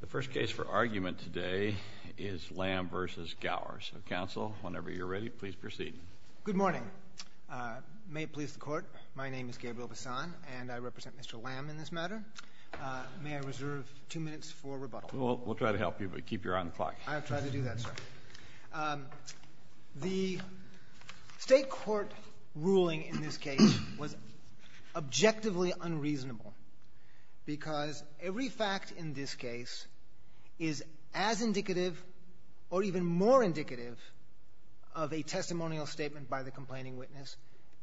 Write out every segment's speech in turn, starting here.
The first case for argument today is Lam v. Gower. So, counsel, whenever you're ready, please proceed. Good morning. May it please the court, my name is Gabriel Bassan, and I represent Mr. Lam in this matter. May I reserve two minutes for rebuttal? We'll try to help you, but keep your eye on the clock. I'll try to do that, sir. The state court ruling in this case was objectively unreasonable because every fact in this case is as indicative or even more indicative of a testimonial statement by the complaining witness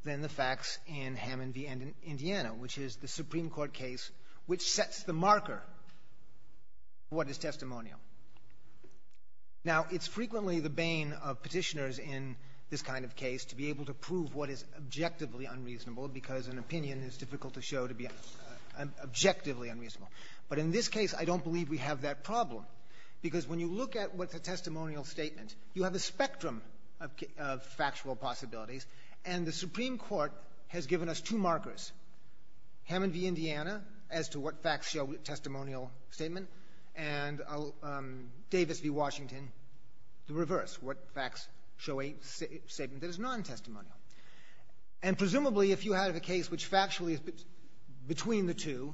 than the facts in Hammond v. Indiana, which is the Supreme Court case which sets the marker of what is testimonial. Now, it's frequently the bane of petitioners in this kind of case to be able to prove what is objectively unreasonable because an opinion is difficult to show to be objectively unreasonable. But in this case, I don't believe we have that problem because when you look at what's a testimonial statement, you have a spectrum of factual possibilities, and the Supreme Court has given us two markers, Hammond v. Indiana, as to what facts show testimonial statement, and Davis v. Washington, the reverse, what facts show a statement that is non-testimonial. And presumably, if you have a case which factually is between the two,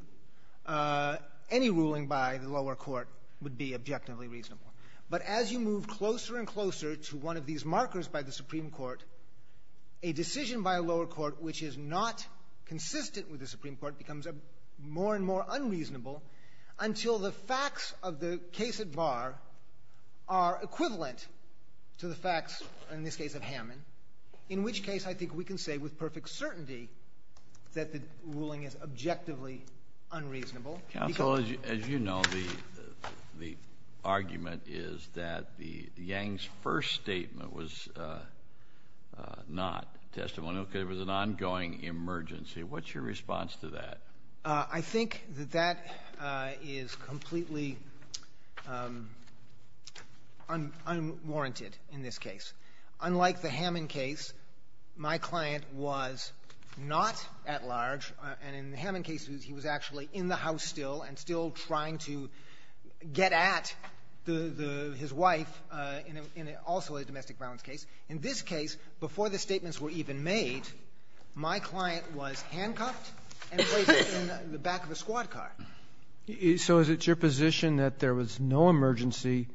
any ruling by the lower court would be objectively reasonable. But as you move closer and closer to one of these markers by the Supreme Court, a decision by a lower court which is not consistent with the Supreme Court becomes more and more unreasonable until the facts of the case at bar are equivalent to the facts, in this case, of Hammond, in which case I think we can say with perfect certainty that the ruling is objectively unreasonable. Counsel, as you know, the argument is that Yang's first statement was not testimonial because it was an ongoing emergency. What's your response to that? I think that that is completely unwarranted in this case. Unlike the Hammond case, my client was not at large, and in the Hammond case he was actually in the house still and still trying to get at his wife in also a domestic violence case. In this case, before the statements were even made, my client was handcuffed and placed in the back of a squad car. So is it your position that there was no emergency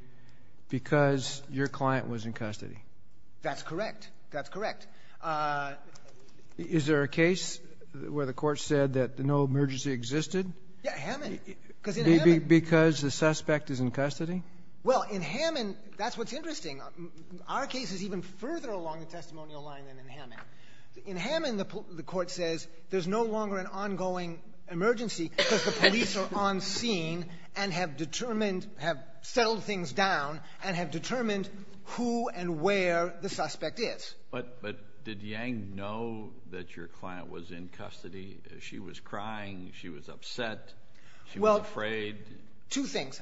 because your client was in custody? That's correct. That's correct. Is there a case where the Court said that no emergency existed? Yeah, Hammond. Because in Hammond the suspect is in custody? Well, in Hammond, that's what's interesting. Our case is even further along the testimonial line than in Hammond. In Hammond, the Court says there's no longer an ongoing emergency because the police are on scene and have determined, have settled things down and have determined who and where the suspect is. But did Yang know that your client was in custody? She was crying. She was upset. She was afraid. Well, two things.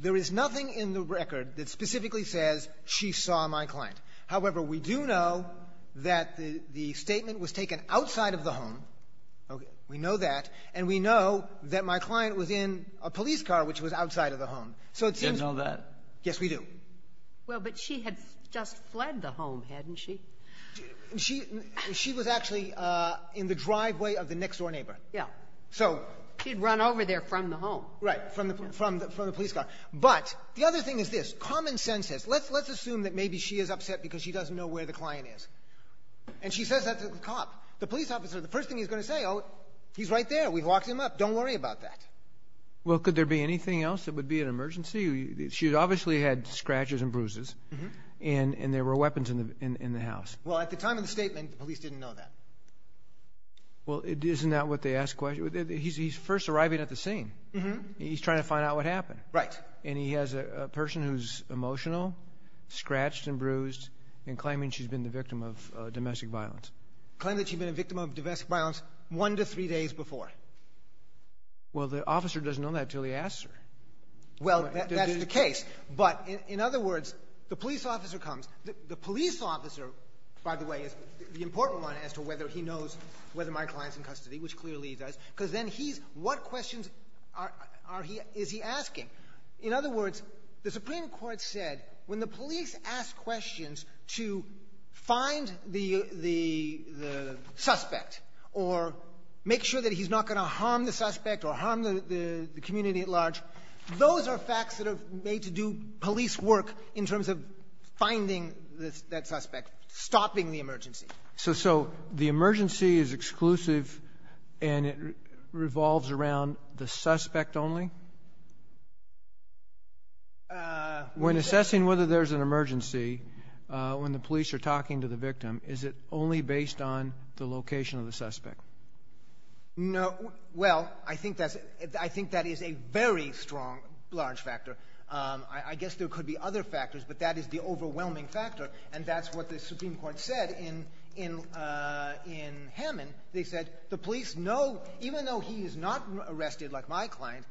There is nothing in the record that specifically says she saw my client. However, we do know that the statement was taken outside of the home. Okay. We know that. And we know that my client was in a police car which was outside of the home. So it seems to be that. She didn't know that. Yes, we do. Well, but she had just fled the home, hadn't she? She was actually in the driveway of the next-door neighbor. Yeah. So she'd run over there from the home. Right, from the police car. But the other thing is this. Common sense says let's assume that maybe she is upset because she doesn't know where the client is. And she says that to the cop, the police officer. The first thing he's going to say, oh, he's right there. We've locked him up. Don't worry about that. Well, could there be anything else that would be an emergency? She obviously had scratches and bruises, and there were weapons in the house. Well, at the time of the statement, the police didn't know that. Well, isn't that what they ask questions? He's first arriving at the scene. He's trying to find out what happened. Right. And he has a person who's emotional, scratched and bruised, and claiming she's been the victim of domestic violence. Claiming that she'd been a victim of domestic violence one to three days before. Well, the officer doesn't know that until he asks her. Well, that's the case. But in other words, the police officer comes. The police officer, by the way, is the important one as to whether he knows whether my client's in custody, which clearly he does, because then he's — what questions are he — is he asking? In other words, the Supreme Court said when the police ask questions to find the suspect or make sure that he's not going to harm the suspect or harm the community at large, those are facts that are made to do police work in terms of finding that suspect, stopping the emergency. So the emergency is exclusive and it revolves around the suspect only? When assessing whether there's an emergency, when the police are talking to the victim, is it only based on the location of the suspect? No. Well, I think that's — I think that is a very strong, large factor. I guess there could be other factors, but that is the overwhelming factor, and that's what the Supreme Court said in Hammond. They said the police know, even though he is not arrested like my client,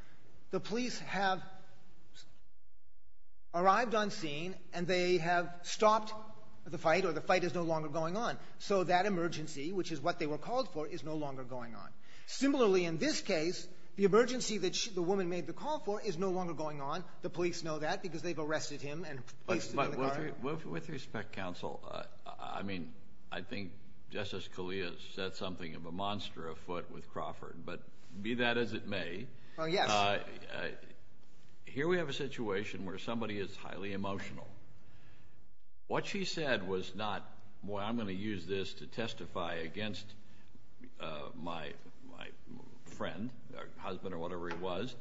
the police have arrived on scene and they have stopped the fight or the fight is no longer going on. So that emergency, which is what they were called for, is no longer going on. Similarly, in this case, the emergency that the woman made the call for is no longer going on. The police know that because they've arrested him and placed him in the car. With respect, counsel, I mean, I think Justice Scalia said something of a monster afoot with Crawford, but be that as it may, here we have a situation where somebody is highly emotional. What she said was not, boy, I'm going to use this to testify against my friend or husband or whatever he was.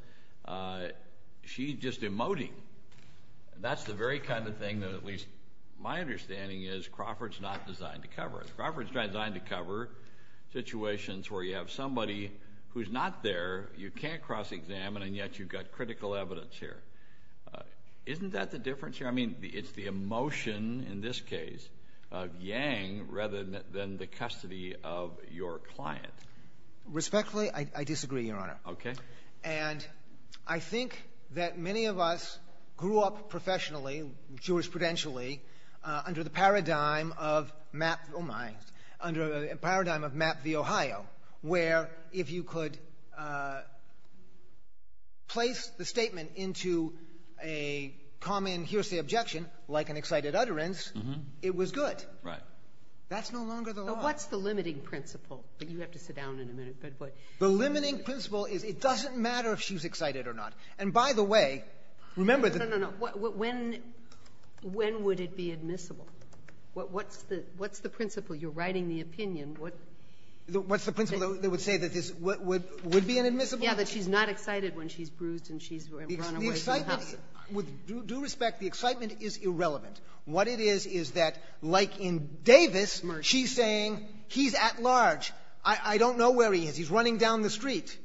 She's just emoting. That's the very kind of thing that at least my understanding is Crawford's not designed to cover. Crawford's designed to cover situations where you have somebody who's not there, you can't cross-examine, and yet you've got critical evidence here. Isn't that the difference here? I mean, it's the emotion in this case of Yang rather than the custody of your client. Respectfully, I disagree, Your Honor. Okay. And I think that many of us grew up professionally, jurisprudentially, under the paradigm of map the Ohio, where if you could place the statement into a common hearsay objection, like an excited utterance, it was good. Right. That's no longer the law. What's the limiting principle? But you have to sit down in a minute. The limiting principle is it doesn't matter if she's excited or not. And by the way, remember that the ---- No, no, no. When would it be admissible? What's the principle? You're writing the opinion. What's the principle that would say that this would be an admissible? Yeah, that she's not excited when she's bruised and she's run away from the house. The excitement, with due respect, the excitement is irrelevant. What it is is that, like in Davis, she's saying he's at large. I don't know where he is. He's running down the street.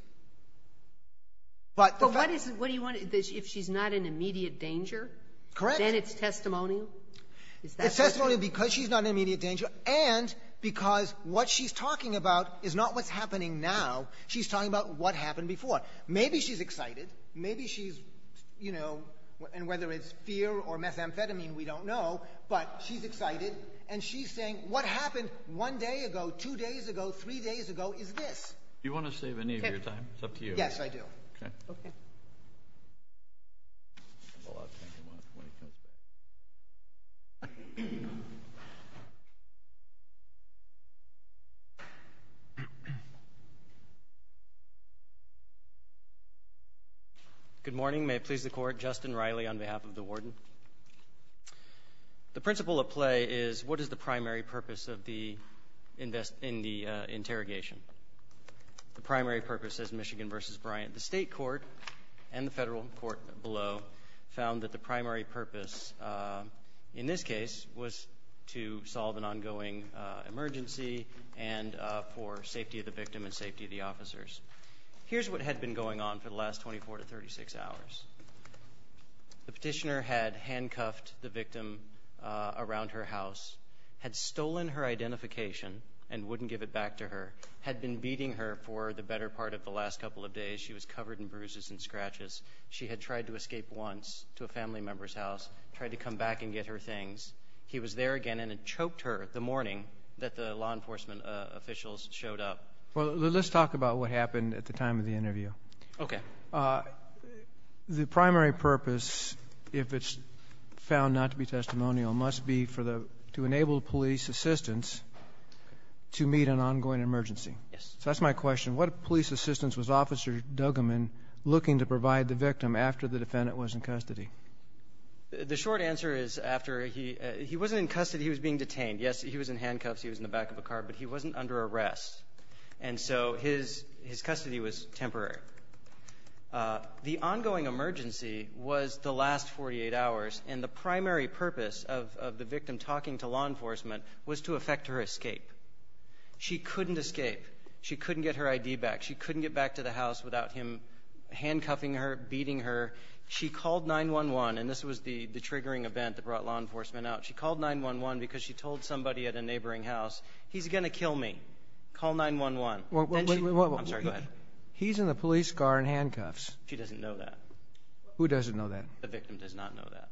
But what do you want, if she's not in immediate danger? Correct. Then it's testimonial? It's testimonial because she's not in immediate danger and because what she's talking about is not what's happening now. She's talking about what happened before. Maybe she's excited. Maybe she's, you know, and whether it's fear or methamphetamine, we don't know, but she's excited. And she's saying what happened one day ago, two days ago, three days ago is this. Do you want to save any of your time? It's up to you. Yes, I do. Okay. Good morning. May it please the Court. Justin Riley on behalf of the warden. The principle at play is what is the primary purpose in the interrogation? The primary purpose is Michigan v. Bryant. The state court and the federal court below found that the primary purpose in this case was to solve an ongoing emergency and for safety of the victim and safety of the officers. Here's what had been going on for the last 24 to 36 hours. The petitioner had handcuffed the victim around her house, had stolen her identification and wouldn't give it back to her, had been beating her for the better part of the last couple of days. She was covered in bruises and scratches. She had tried to escape once to a family member's house, tried to come back and get her things. He was there again and had choked her the morning that the law enforcement officials showed up. Well, let's talk about what happened at the time of the interview. Okay. The primary purpose, if it's found not to be testimonial, must be to enable police assistance to meet an ongoing emergency. Yes. So that's my question. What police assistance was Officer Dugaman looking to provide the victim after the defendant was in custody? The short answer is after he wasn't in custody, he was being detained. Yes, he was in handcuffs, he was in the back of a car, but he wasn't under arrest. And so his custody was temporary. The ongoing emergency was the last 48 hours, and the primary purpose of the victim talking to law enforcement was to effect her escape. She couldn't escape. She couldn't get her ID back. She couldn't get back to the house without him handcuffing her, beating her. She called 911, and this was the triggering event that brought law enforcement out. She called 911 because she told somebody at a neighboring house, he's going to kill me, call 911. I'm sorry, go ahead. He's in the police car in handcuffs. She doesn't know that. Who doesn't know that? The victim does not know that.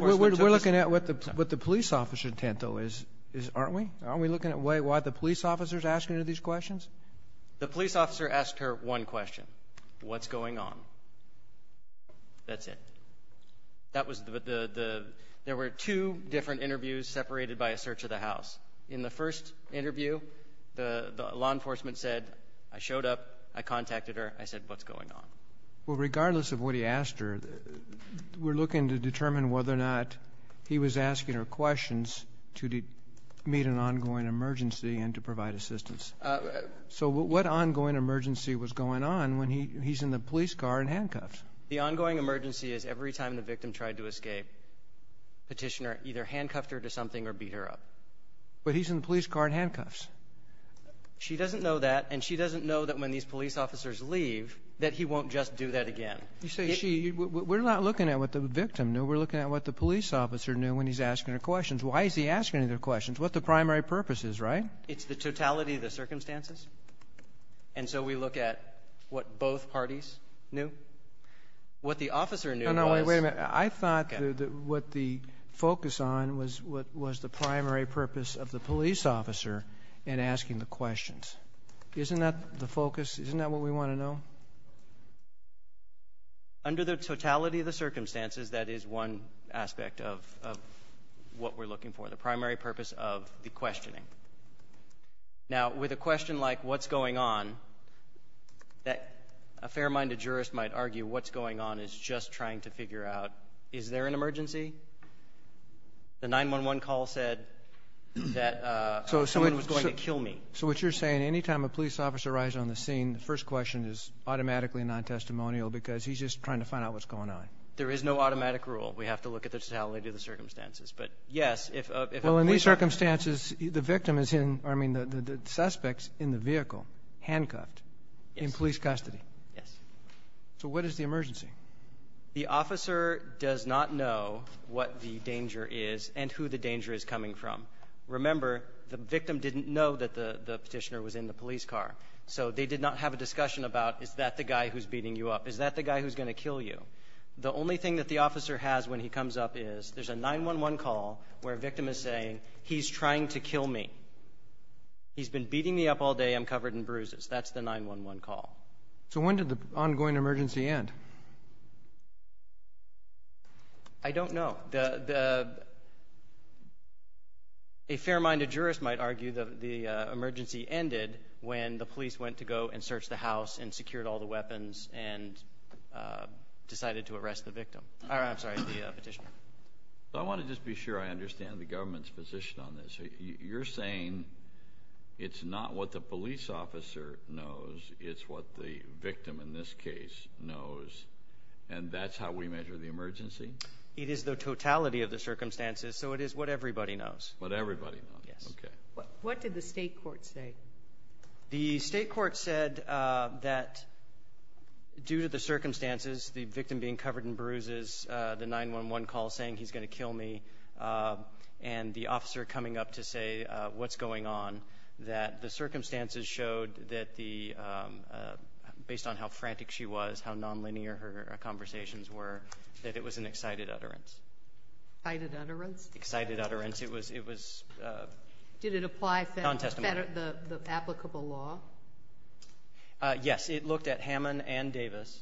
We're looking at what the police officer intent, though, aren't we? Aren't we looking at why the police officer is asking her these questions? The police officer asked her one question, what's going on? That's it. There were two different interviews separated by a search of the house. In the first interview, the law enforcement said, I showed up, I contacted her, I said, what's going on? Well, regardless of what he asked her, we're looking to determine whether or not he was asking her questions to meet an ongoing emergency and to provide assistance. So what ongoing emergency was going on when he's in the police car in handcuffs? The ongoing emergency is every time the victim tried to escape, petitioner either handcuffed her to something or beat her up. But he's in the police car in handcuffs. She doesn't know that, and she doesn't know that when these police officers leave that he won't just do that again. You say she. We're not looking at what the victim knew. We're looking at what the police officer knew when he's asking her questions. Why is he asking her questions? What the primary purpose is, right? It's the totality of the circumstances. And so we look at what both parties knew. What the officer knew was. No, no, wait a minute. I thought what the focus on was what was the primary purpose of the police officer in asking the questions. Isn't that the focus? Isn't that what we want to know? Under the totality of the circumstances, that is one aspect of what we're looking for, the primary purpose of the questioning. Now, with a question like what's going on, a fair-minded jurist might argue what's going on is just trying to figure out, is there an emergency? The 911 call said that someone was going to kill me. So what you're saying, any time a police officer arrives on the scene, the first question is automatically non-testimonial because he's just trying to find out what's going on. There is no automatic rule. We have to look at the totality of the circumstances. But, yes, if a police officer. Well, in these circumstances, the victim is in, I mean, the suspect is in the vehicle, handcuffed, in police custody. Yes. So what is the emergency? The officer does not know what the danger is and who the danger is coming from. Remember, the victim didn't know that the Petitioner was in the police car. So they did not have a discussion about is that the guy who's beating you up? Is that the guy who's going to kill you? The only thing that the officer has when he comes up is there's a 911 call where a victim is saying, he's trying to kill me. He's been beating me up all day. I'm covered in bruises. That's the 911 call. So when did the ongoing emergency end? I don't know. A fair-minded jurist might argue the emergency ended when the police went to go and search the house and secured all the weapons and decided to arrest the victim. I'm sorry, the Petitioner. I want to just be sure I understand the government's position on this. You're saying it's not what the police officer knows, it's what the victim in this case knows, and that's how we measure the emergency? It is the totality of the circumstances, so it is what everybody knows. What everybody knows. Yes. Okay. What did the state court say? The state court said that due to the circumstances, the victim being covered in bruises, the 911 call saying he's going to kill me, and the officer coming up to say what's going on, that the circumstances showed that based on how frantic she was, how nonlinear her conversations were, that it was an excited utterance. Excited utterance? Excited utterance. It was non-testimony. Did it apply the applicable law? Yes. It looked at Hammond and Davis,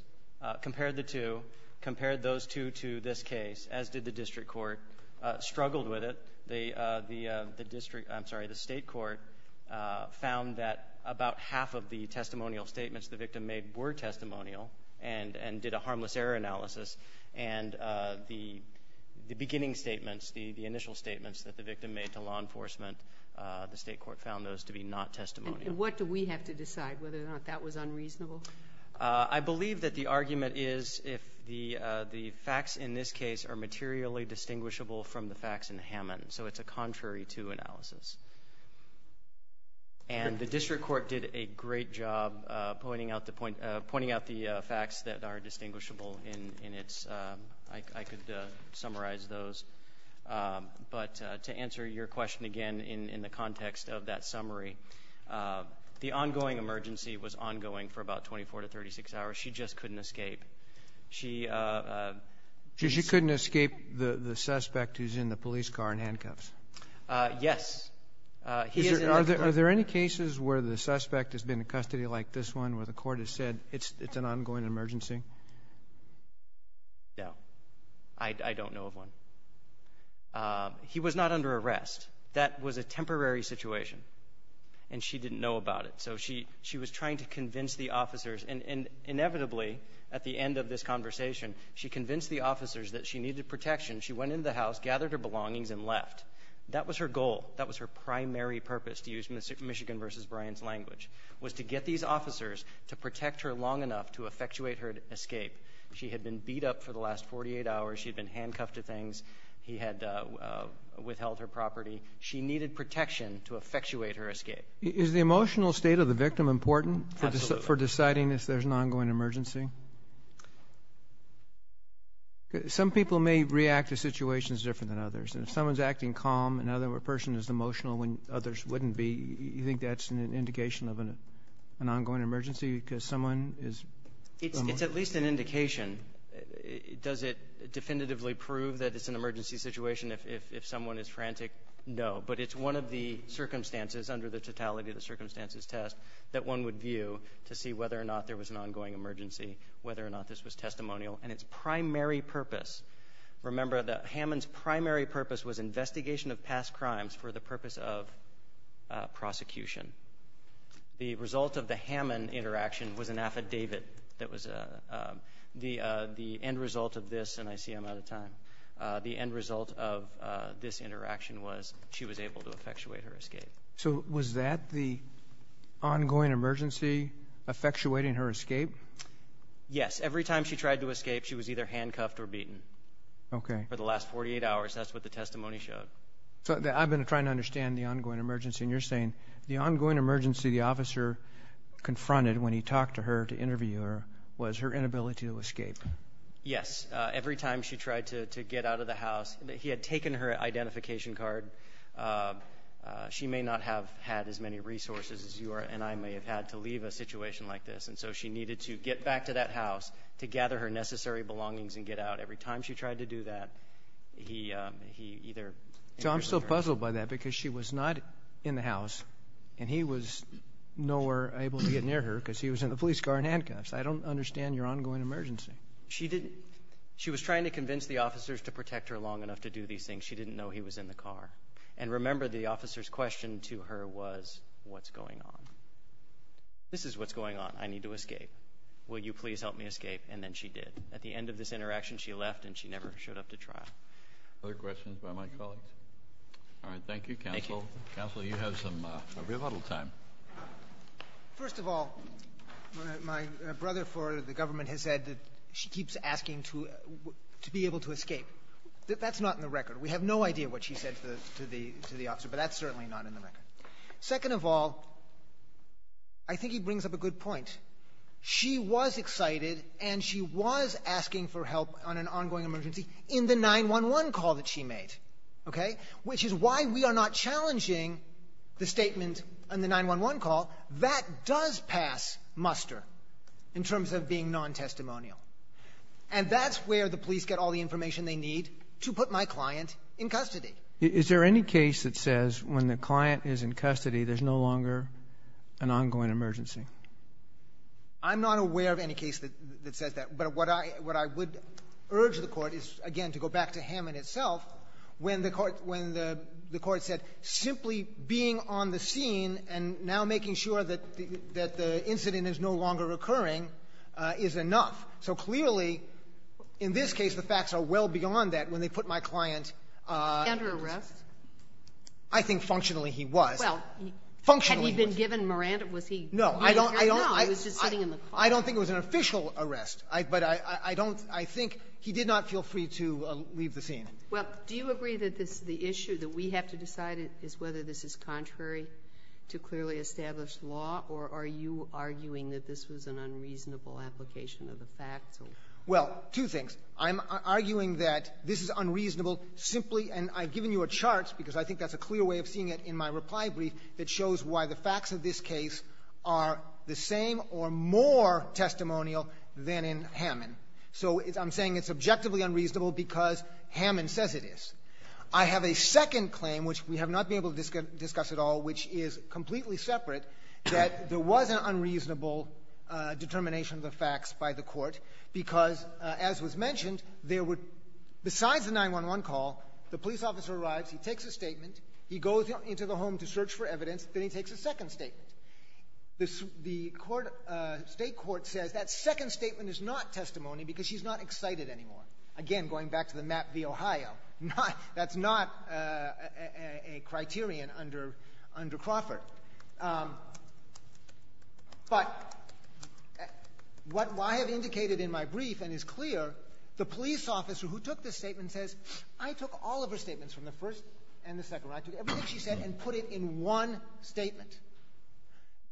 compared the two, compared those two to this case, as did the district court, struggled with it. The state court found that about half of the testimonial statements the victim made were testimonial and did a harmless error analysis, and the beginning statements, the initial statements that the victim made to law enforcement, the state court found those to be not testimonial. And what do we have to decide, whether or not that was unreasonable? I believe that the argument is if the facts in this case are materially distinguishable from the facts in Hammond, so it's a contrary to analysis. And the district court did a great job pointing out the facts that are distinguishable in its ‑‑ I could summarize those. But to answer your question again in the context of that summary, the ongoing emergency was ongoing for about 24 to 36 hours. She just couldn't escape. She ‑‑ She couldn't escape the suspect who's in the police car in handcuffs? Yes. Are there any cases where the suspect has been in custody like this one where the court has said it's an ongoing emergency? No. I don't know of one. He was not under arrest. That was a temporary situation, and she didn't know about it. So she was trying to convince the officers, and inevitably, at the end of this conversation, she convinced the officers that she needed protection. She went into the house, gathered her belongings, and left. That was her goal. That was her primary purpose, to use Michigan v. Bryant's language, was to get these officers to protect her long enough to effectuate her escape. She had been beat up for the last 48 hours. She had been handcuffed to things. He had withheld her property. She needed protection to effectuate her escape. Is the emotional state of the victim important for deciding if there's an ongoing emergency? Some people may react to situations different than others, and if someone's acting calm and the other person is emotional when others wouldn't be, you think that's an indication of an ongoing emergency because someone is emotional? It's at least an indication. Does it definitively prove that it's an emergency situation if someone is frantic? No, but it's one of the circumstances under the totality of the circumstances test that one would view to see whether or not there was an ongoing emergency, whether or not this was testimonial, and its primary purpose. Remember, Hammond's primary purpose was investigation of past crimes for the purpose of prosecution. The result of the Hammond interaction was an affidavit that was the end result of this, and I see I'm out of time. The end result of this interaction was she was able to effectuate her escape. So was that the ongoing emergency effectuating her escape? Yes. Every time she tried to escape, she was either handcuffed or beaten for the last 48 hours. That's what the testimony showed. I've been trying to understand the ongoing emergency, and you're saying the ongoing emergency the officer confronted when he talked to her to interview her was her inability to escape. Yes. Every time she tried to get out of the house, he had taken her identification card. She may not have had as many resources as you and I may have had to leave a situation like this, and so she needed to get back to that house to gather her necessary belongings and get out. Every time she tried to do that, he either interviewed her. So I'm still puzzled by that because she was not in the house, and he was nowhere able to get near her because he was in the police car in handcuffs. I don't understand your ongoing emergency. She was trying to convince the officers to protect her long enough to do these things. She didn't know he was in the car. And remember, the officer's question to her was, what's going on? This is what's going on. I need to escape. Will you please help me escape? And then she did. At the end of this interaction, she left, and she never showed up to trial. Other questions by my colleagues? All right. Thank you, Counsel. Counsel, you have some rebuttal time. First of all, my brother for the government has said that she keeps asking to be able to escape. That's not in the record. We have no idea what she said to the officer, but that's certainly not in the record. Second of all, I think he brings up a good point. She was excited, and she was asking for help on an ongoing emergency in the 911 call that she made, okay, which is why we are not challenging the statement on the 911 call. That does pass muster in terms of being non-testimonial. And that's where the police get all the information they need to put my client in custody. Is there any case that says when the client is in custody, there's no longer an ongoing emergency? I'm not aware of any case that says that. But what I would urge the Court is, again, to go back to Hammond itself, when the Court said simply being on the scene and now making sure that the incident is no longer occurring is enough. So clearly, in this case, the facts are well beyond that when they put my client under arrest. I think functionally he was. Functionally he was. Had he been given Miranda? No. I don't think it was an official arrest. But I don't — I think he did not feel free to leave the scene. Well, do you agree that the issue that we have to decide is whether this is contrary to clearly established law? Or are you arguing that this was an unreasonable application of the facts? Well, two things. I'm arguing that this is unreasonable simply — and I've given you a chart, because I think that's a clear way of seeing it in my reply brief, that shows why the facts of this case are the same or more testimonial than in Hammond. So I'm saying it's objectively unreasonable because Hammond says it is. I have a second claim, which we have not been able to discuss at all, which is completely separate, that there was an unreasonable determination of the facts by the court because, as was mentioned, there were — besides the 911 call, the police officer arrives, he takes a statement, he goes into the home to search for evidence, then he takes a second statement. The state court says that second statement is not testimony because she's not excited anymore. Again, going back to the Map v. Ohio, that's not a criterion under Crawford. But what I have indicated in my brief and is clear, the police officer who took this statement says, I took all of her statements from the first and the second one. I took everything she said and put it in one statement.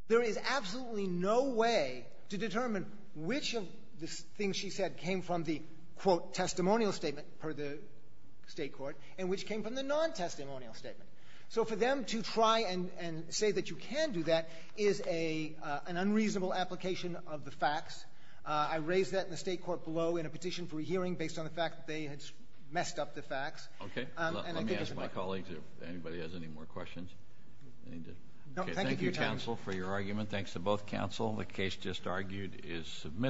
There is absolutely no way to determine which of the things she said came from the, quote, testimonial statement per the state court and which came from the non-testimonial statement. So for them to try and say that you can do that is an unreasonable application of the facts. I raised that in the state court below in a petition for a hearing based on the fact that they had messed up the facts. And I think it doesn't matter. Thank you. Thank you, colleagues. If anybody has any more questions. Thank you, counsel, for your argument. Thanks to both counsel. The case just argued is submitted.